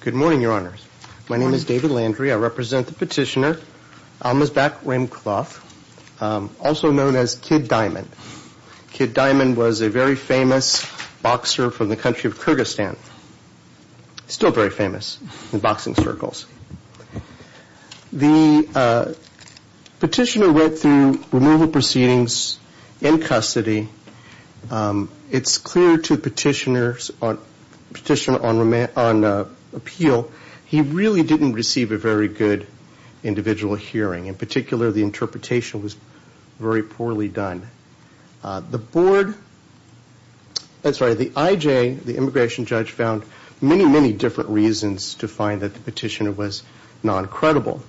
Good morning, Your Honors. My name is David Landry. I represent the petitioner, Almazbak Raiymkulov, also known as Kid Diamond. Kid Diamond was a very famous boxer from the country of Kyrgyzstan. Still very famous in boxing circles. The petitioner went through removal proceedings in custody. It's clear to the petitioner on appeal he really didn't receive a very good individual hearing. In particular, the interpretation was very poorly done. The board, I'm sorry, the IJ, the immigration judge, found many, many different reasons to find that the petitioner was non-credible.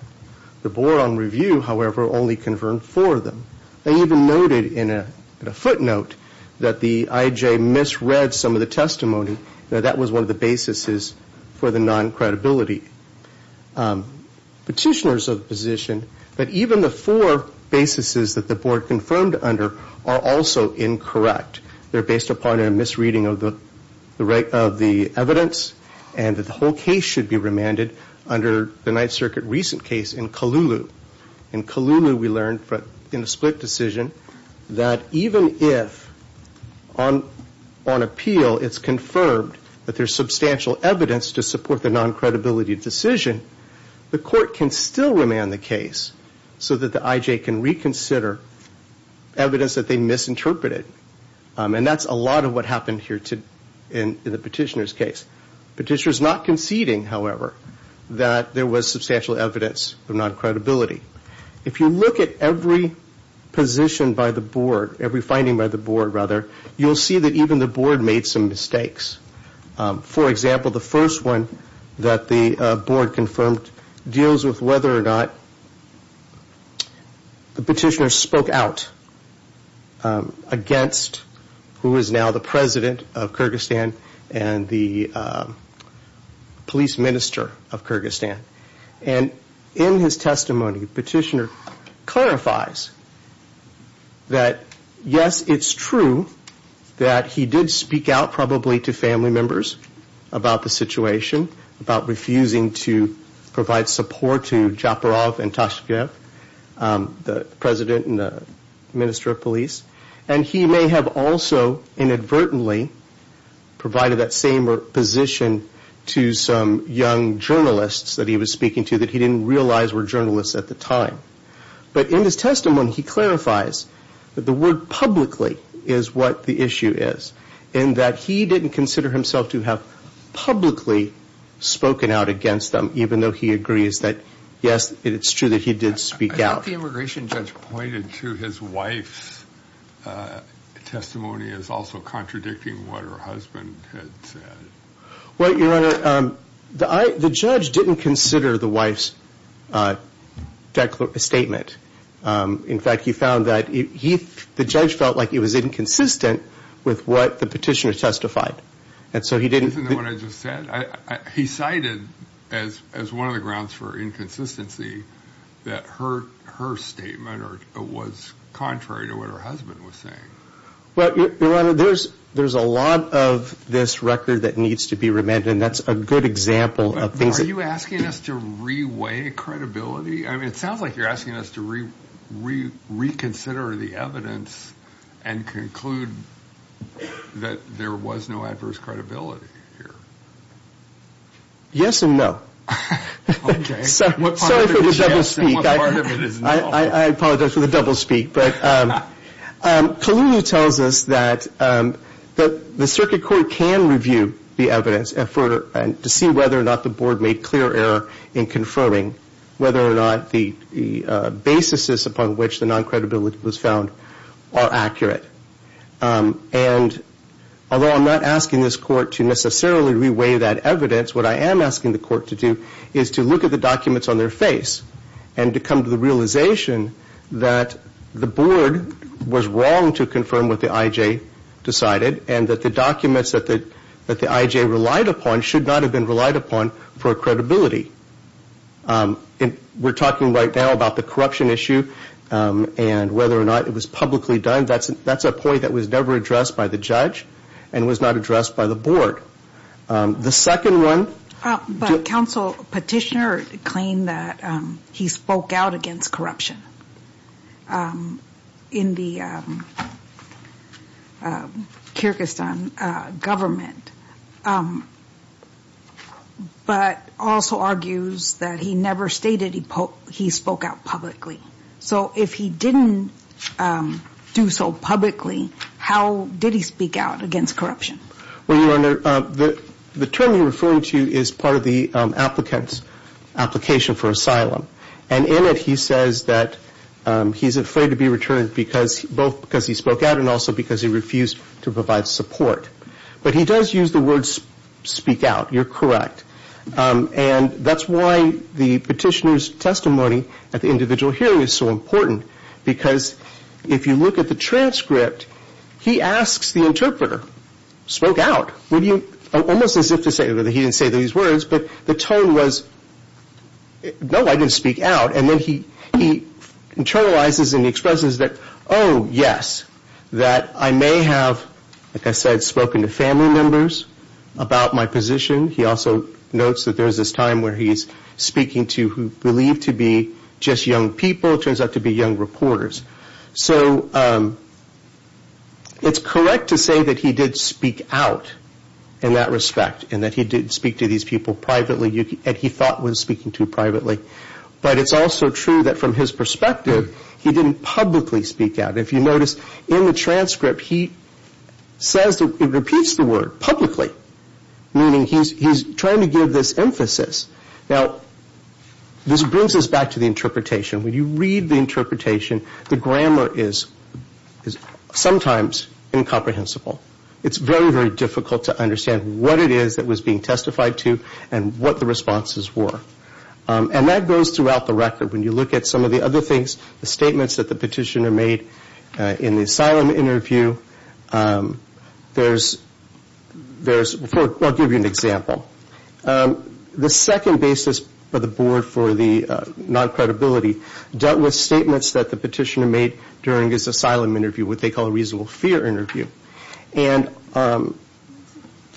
The board on review, however, only confirmed four of them. They even noted in a footnote that the IJ misread some of the testimony, that that was one of the basis for the non-credibility. The petitioners of the position, that even the four basis that the board confirmed under are also incorrect. They're based upon a misreading of the evidence and that the whole case should be remanded under the Ninth Circuit recent case in Kalulu. In Kalulu we learned in a split decision that even if on appeal it's confirmed that there's substantial evidence to support the non-credibility decision, the court can still remand the case so that the IJ can reconsider evidence that they misinterpreted. And that's a lot of what happened here in the petitioner's case. Petitioner's not conceding, however, that there was substantial evidence of non-credibility. If you look at every position by the board, every finding by the board, rather, you'll see that even the board made some mistakes. For example, the first one that the board confirmed deals with whether or not the petitioner spoke out against who is now the president of Kyrgyzstan and the police minister of Kyrgyzstan. And in his testimony, the petitioner clarifies that, yes, it's true that he did speak out probably to family members about the situation, about refusing to provide support to Japarov and Tashkev, the president and the minister of police. And he may have also inadvertently provided that same position to some young journalists that he was speaking to that he didn't realize were journalists at the time. But in his testimony, he clarifies that the word publicly is what the issue is, in that he didn't consider himself to have publicly spoken out against them, even though he agrees that, yes, it's true that he did speak out. I thought the immigration judge pointed to his wife's testimony as also contradicting what her husband had said. Well, Your Honor, the judge didn't consider the wife's statement. In fact, he found that the judge felt like it was inconsistent with what the petitioner testified. Isn't that what I just said? He cited as one of the grounds for inconsistency that her statement was contrary to what her husband was saying. Well, Your Honor, there's a lot of this record that needs to be remanded, and that's a good example of things that... Are you asking us to re-weigh credibility? I mean, it sounds like you're asking us to reconsider the evidence and conclude that there was no adverse credibility here. Yes and no. Okay. Sorry for the double speak. What part of it is yes and what part of it is no? I apologize for the double speak. Kaluuya tells us that the circuit court can review the evidence to see whether or not the board made clear error in confirming whether or not the basis upon which the non-credibility was found are accurate. And although I'm not asking this court to necessarily re-weigh that evidence, what I am asking the court to do is to look at the documents on their face and to come to the realization that the board was wrong to confirm what the IJ decided and that the documents that the IJ relied upon should not have been relied upon for credibility. We're talking right now about the corruption issue and whether or not it was publicly done. That's a point that was never addressed by the judge and was not addressed by the board. The second one... But counsel petitioner claimed that he spoke out against corruption in the Kyrgyzstan government but also argues that he never stated he spoke out publicly. So if he didn't do so publicly, how did he speak out against corruption? Well, Your Honor, the term you're referring to is part of the applicant's application for asylum. And in it he says that he's afraid to be returned both because he spoke out and also because he refused to provide support. But he does use the words speak out. You're correct. And that's why the petitioner's testimony at the individual hearing is so important because if you look at the transcript, he asks the interpreter, spoke out. Almost as if to say that he didn't say these words, but the tone was, no, I didn't speak out. And then he internalizes and expresses that, oh, yes, that I may have, like I said, spoken to family members about my position. He also notes that there's this time where he's speaking to who believe to be just young people. It still turns out to be young reporters. So it's correct to say that he did speak out in that respect and that he did speak to these people privately and he thought was speaking to privately. But it's also true that from his perspective, he didn't publicly speak out. If you notice in the transcript, he says, he repeats the word publicly, meaning he's trying to give this emphasis. Now, this brings us back to the interpretation. When you read the interpretation, the grammar is sometimes incomprehensible. It's very, very difficult to understand what it is that was being testified to and what the responses were. And that goes throughout the record. When you look at some of the other things, the statements that the petitioner made in the asylum interview, there's, I'll give you an example. The second basis for the board for the non-credibility dealt with statements that the petitioner made during his asylum interview, what they call a reasonable fear interview. And the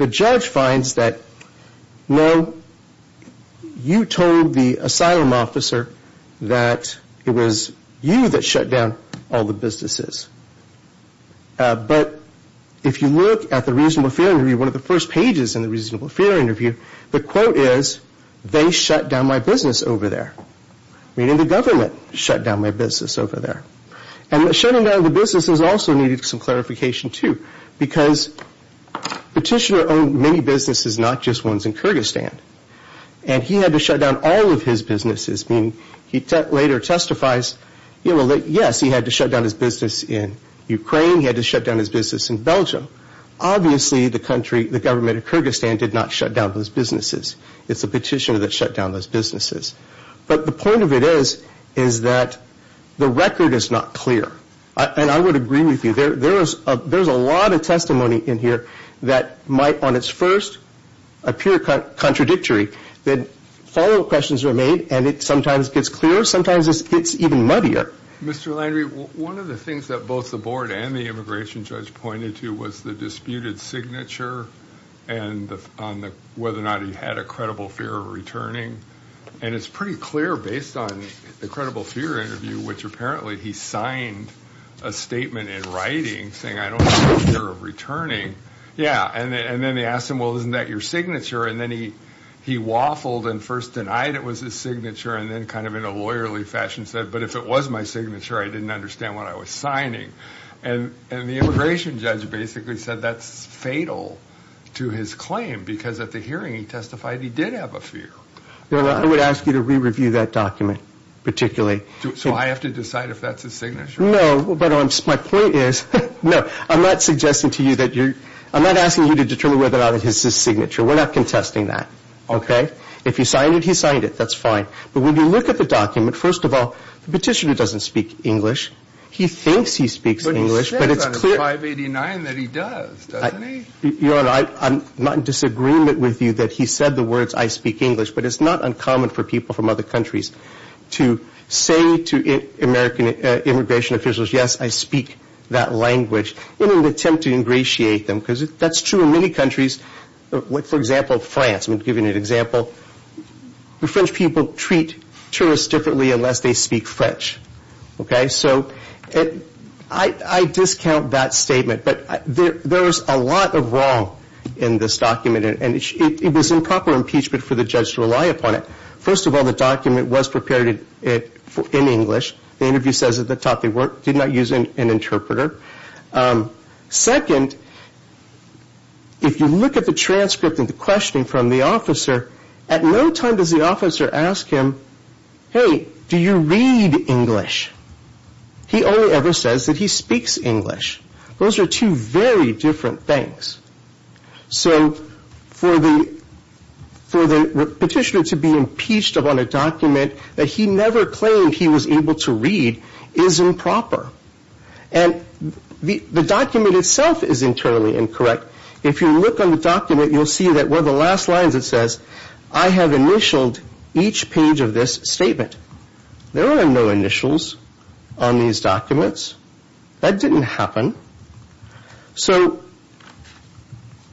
judge finds that, no, you told the asylum officer that it was you that shut down all the businesses. But if you look at the reasonable fear interview, one of the first pages in the reasonable fear interview, the quote is, they shut down my business over there. Meaning the government shut down my business over there. And shutting down the businesses also needed some clarification, too, because the petitioner owned many businesses, not just ones in Kyrgyzstan. And he had to shut down all of his businesses, meaning he later testifies, yes, he had to shut down his business in Ukraine, he had to shut down his business in Belgium. Obviously the country, the government of Kyrgyzstan did not shut down those businesses. It's the petitioner that shut down those businesses. But the point of it is, is that the record is not clear. And I would agree with you. There's a lot of testimony in here that might on its first appear contradictory. Then follow-up questions are made, and it sometimes gets clearer, sometimes it gets even muddier. Mr. Landry, one of the things that both the board and the immigration judge pointed to was the disputed signature, and on whether or not he had a credible fear of returning. And it's pretty clear based on the credible fear interview, which apparently he signed a statement in writing, saying I don't have a fear of returning. Yeah, and then they asked him, well, isn't that your signature? And then he waffled and first denied it was his signature, and then kind of in a lawyerly fashion said, but if it was my signature, I didn't understand what I was signing. And the immigration judge basically said that's fatal to his claim, because at the hearing he testified he did have a fear. Well, I would ask you to re-review that document, particularly. So I have to decide if that's his signature? No, but my point is, no, I'm not suggesting to you that you're – I'm not asking you to determine whether or not it is his signature. We're not contesting that, okay? If he signed it, he signed it. That's fine. But when you look at the document, first of all, the petitioner doesn't speak English. He thinks he speaks English, but it's clear – But he says on 589 that he does, doesn't he? I'm not in disagreement with you that he said the words I speak English, but it's not uncommon for people from other countries to say to American immigration officials, yes, I speak that language in an attempt to ingratiate them, because that's true in many countries. For example, France. I'm giving you an example. The French people treat tourists differently unless they speak French, okay? So I discount that statement, but there is a lot of wrong in this document, and it was improper impeachment for the judge to rely upon it. First of all, the document was prepared in English. The interview says at the top they did not use an interpreter. Second, if you look at the transcript and the questioning from the officer, at no time does the officer ask him, hey, do you read English? He only ever says that he speaks English. Those are two very different things. So for the petitioner to be impeached upon a document that he never claimed he was able to read is improper. And the document itself is internally incorrect. If you look on the document, you'll see that one of the last lines it says, I have initialed each page of this statement. There are no initials on these documents. That didn't happen. So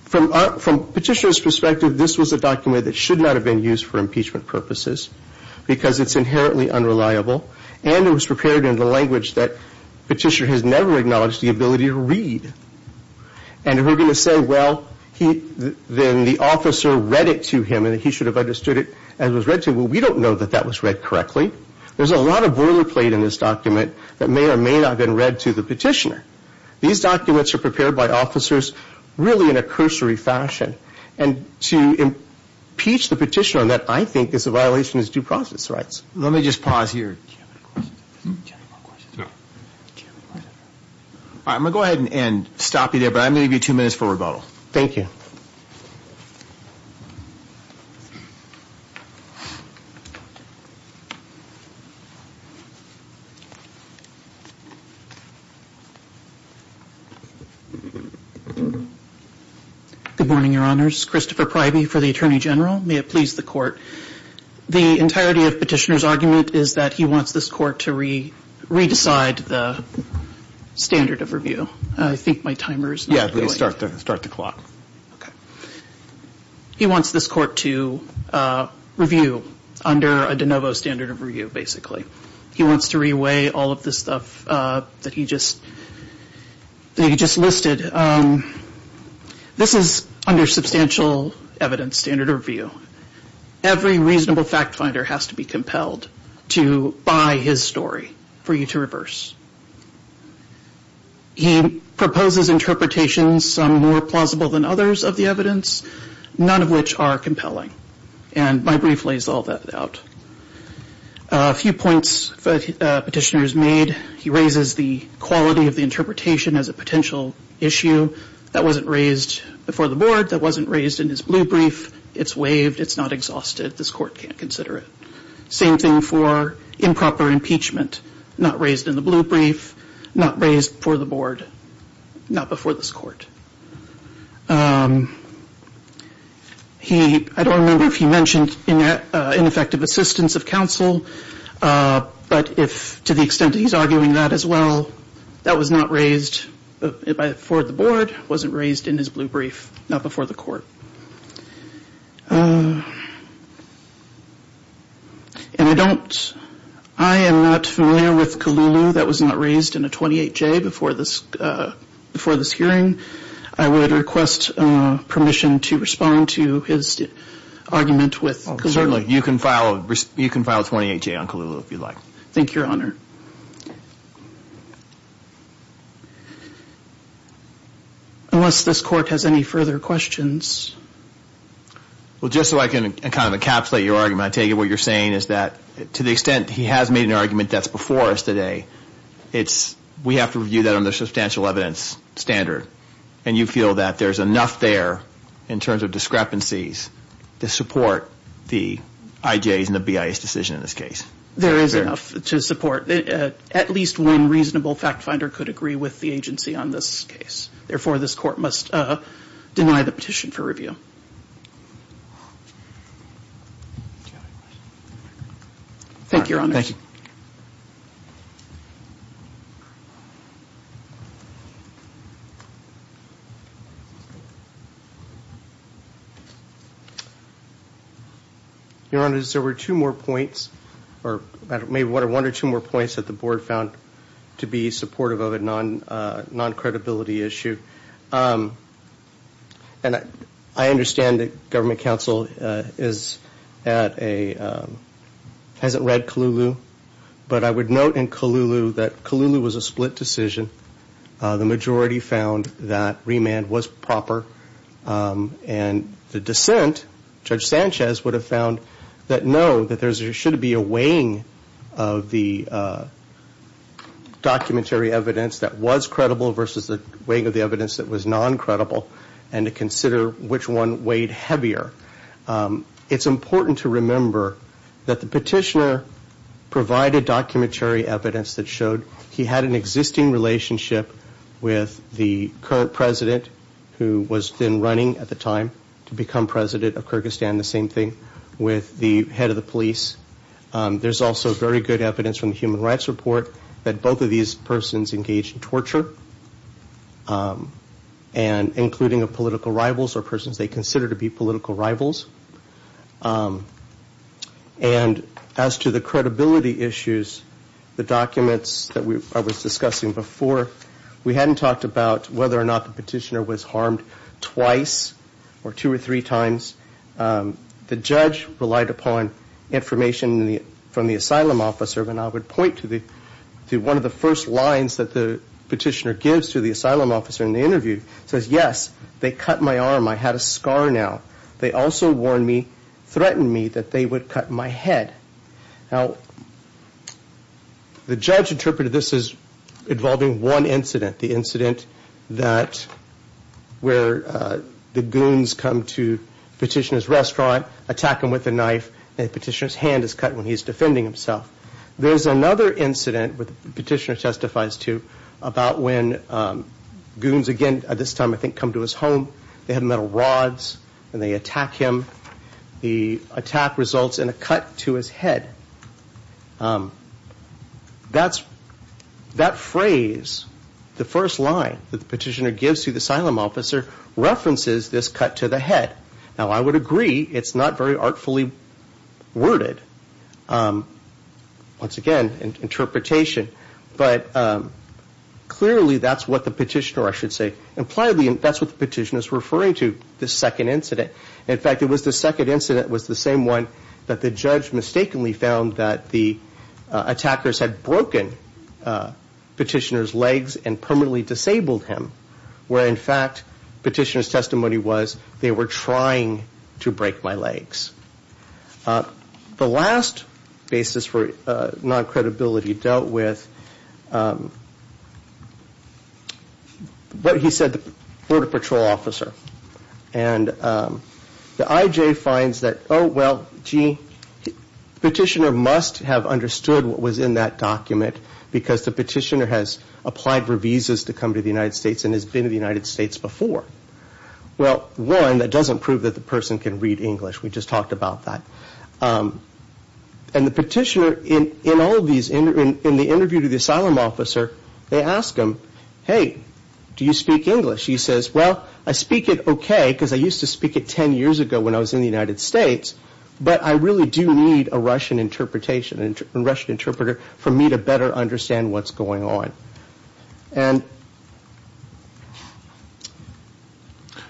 from petitioner's perspective, this was a document that should not have been used for impeachment purposes because it's inherently unreliable, and it was prepared in the language that petitioner has never acknowledged the ability to read. And we're going to say, well, then the officer read it to him and he should have understood it as it was read to him. Well, we don't know that that was read correctly. There's a lot of boilerplate in this document that may or may not have been read to the petitioner. These documents are prepared by officers really in a cursory fashion. And to impeach the petitioner on that, I think, is a violation of his due process rights. Let me just pause here. I'm going to go ahead and stop you there, but I'm going to give you two minutes for rebuttal. Thank you. Good morning, Your Honors. Christopher Pryby for the Attorney General. May it please the Court. The entirety of petitioner's argument is that he wants this Court to re-decide the standard of review. I think my timer is not going. Yeah, please start the clock. Okay. He wants this Court to review under a de novo standard of review, basically. He wants to re-weigh all of the stuff that he just listed. This is under substantial evidence standard of review. Every reasonable fact finder has to be compelled to buy his story for you to reverse. He proposes interpretations some more plausible than others of the evidence, none of which are compelling. And my brief lays all that out. A few points petitioner's made. He raises the quality of the interpretation as a potential issue. That wasn't raised before the Board. That wasn't raised in his blue brief. It's waived. It's not exhausted. This Court can't consider it. Same thing for improper impeachment. Not raised in the blue brief. Not raised before the Board. Not before this Court. He, I don't remember if he mentioned ineffective assistance of counsel, but if, to the extent that he's arguing that as well, that was not raised before the Board. It wasn't raised in his blue brief. Not before the Court. And I don't, I am not familiar with Colulu. That was not raised in a 28-J before this hearing. I would request permission to respond to his argument with Colulu. You can file a 28-J on Colulu if you'd like. Thank you, Your Honor. Unless this Court has any further questions. Well, just so I can kind of encapsulate your argument, I take it what you're saying is that to the extent he has made an argument that's before us today, it's, we have to review that under substantial evidence standard. And you feel that there's enough there in terms of discrepancies to support the IJ's and the BIA's decision in this case. There is enough to support. At least one reasonable fact finder could agree with the agency on this case. Therefore, this Court must deny the petition for review. Thank you, Your Honor. Thank you. Your Honor, there were two more points, or maybe one or two more points that the Board found to be supportive of a non-credibility issue. And I understand that Government Counsel is at a, hasn't read Colulu. But I would note in Colulu that Colulu was a split decision. The majority found that remand was proper. And the dissent, Judge Sanchez would have found that no, that there should be a weighing of the documentary evidence that was credible versus the weighing of the evidence that was non-credible and to consider which one weighed heavier. It's important to remember that the petitioner provided documentary evidence that showed he had an existing relationship with the current president who was then running at the time to become president of Kyrgyzstan, the same thing, with the head of the police. There's also very good evidence from the Human Rights Report that both of these persons engaged in torture, and including political rivals or persons they consider to be political rivals. And as to the credibility issues, the documents that I was discussing before, we hadn't talked about whether or not the petitioner was harmed twice or two or three times. The judge relied upon information from the asylum officer. And I would point to one of the first lines that the petitioner said, which the petitioner gives to the asylum officer in the interview, says, yes, they cut my arm. I had a scar now. They also warned me, threatened me, that they would cut my head. Now, the judge interpreted this as involving one incident, the incident where the goons come to the petitioner's restaurant, attack him with a knife, and the petitioner's hand is cut when he's defending himself. There's another incident, which the petitioner testifies to, about when goons again, at this time, I think, come to his home. They have metal rods, and they attack him. The attack results in a cut to his head. That phrase, the first line that the petitioner gives to the asylum officer, references this cut to the head. Now, I would agree it's not very artfully worded. Once again, interpretation. But clearly, that's what the petitioner, I should say, impliedly, that's what the petitioner is referring to, this second incident. In fact, it was the second incident was the same one that the judge mistakenly found that the attackers had broken petitioner's legs and permanently disabled him, where, in fact, petitioner's testimony was, they were trying to break my legs. The last basis for non-credibility dealt with what he said the border patrol officer. And the IJ finds that, oh, well, gee, petitioner must have understood what was in that document, because the petitioner has applied for visas to come to the United States and has been to the United States before. Well, one, that doesn't prove that the person can read English. We just talked about that. And the petitioner, in the interview to the asylum officer, they ask him, hey, do you speak English? He says, well, I speak it okay, because I used to speak it ten years ago when I was in the United States, but I really do need a Russian interpreter for me to better understand what's going on.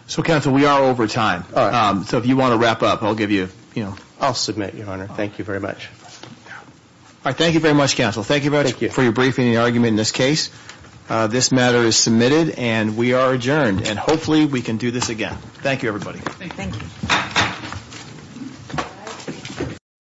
So, counsel, we are over time. So if you want to wrap up, I'll give you, you know. I'll submit, Your Honor. Thank you very much. All right. Thank you very much, counsel. Thank you very much for your briefing and your argument in this case. This matter is submitted, and we are adjourned. And hopefully we can do this again. Thank you, everybody.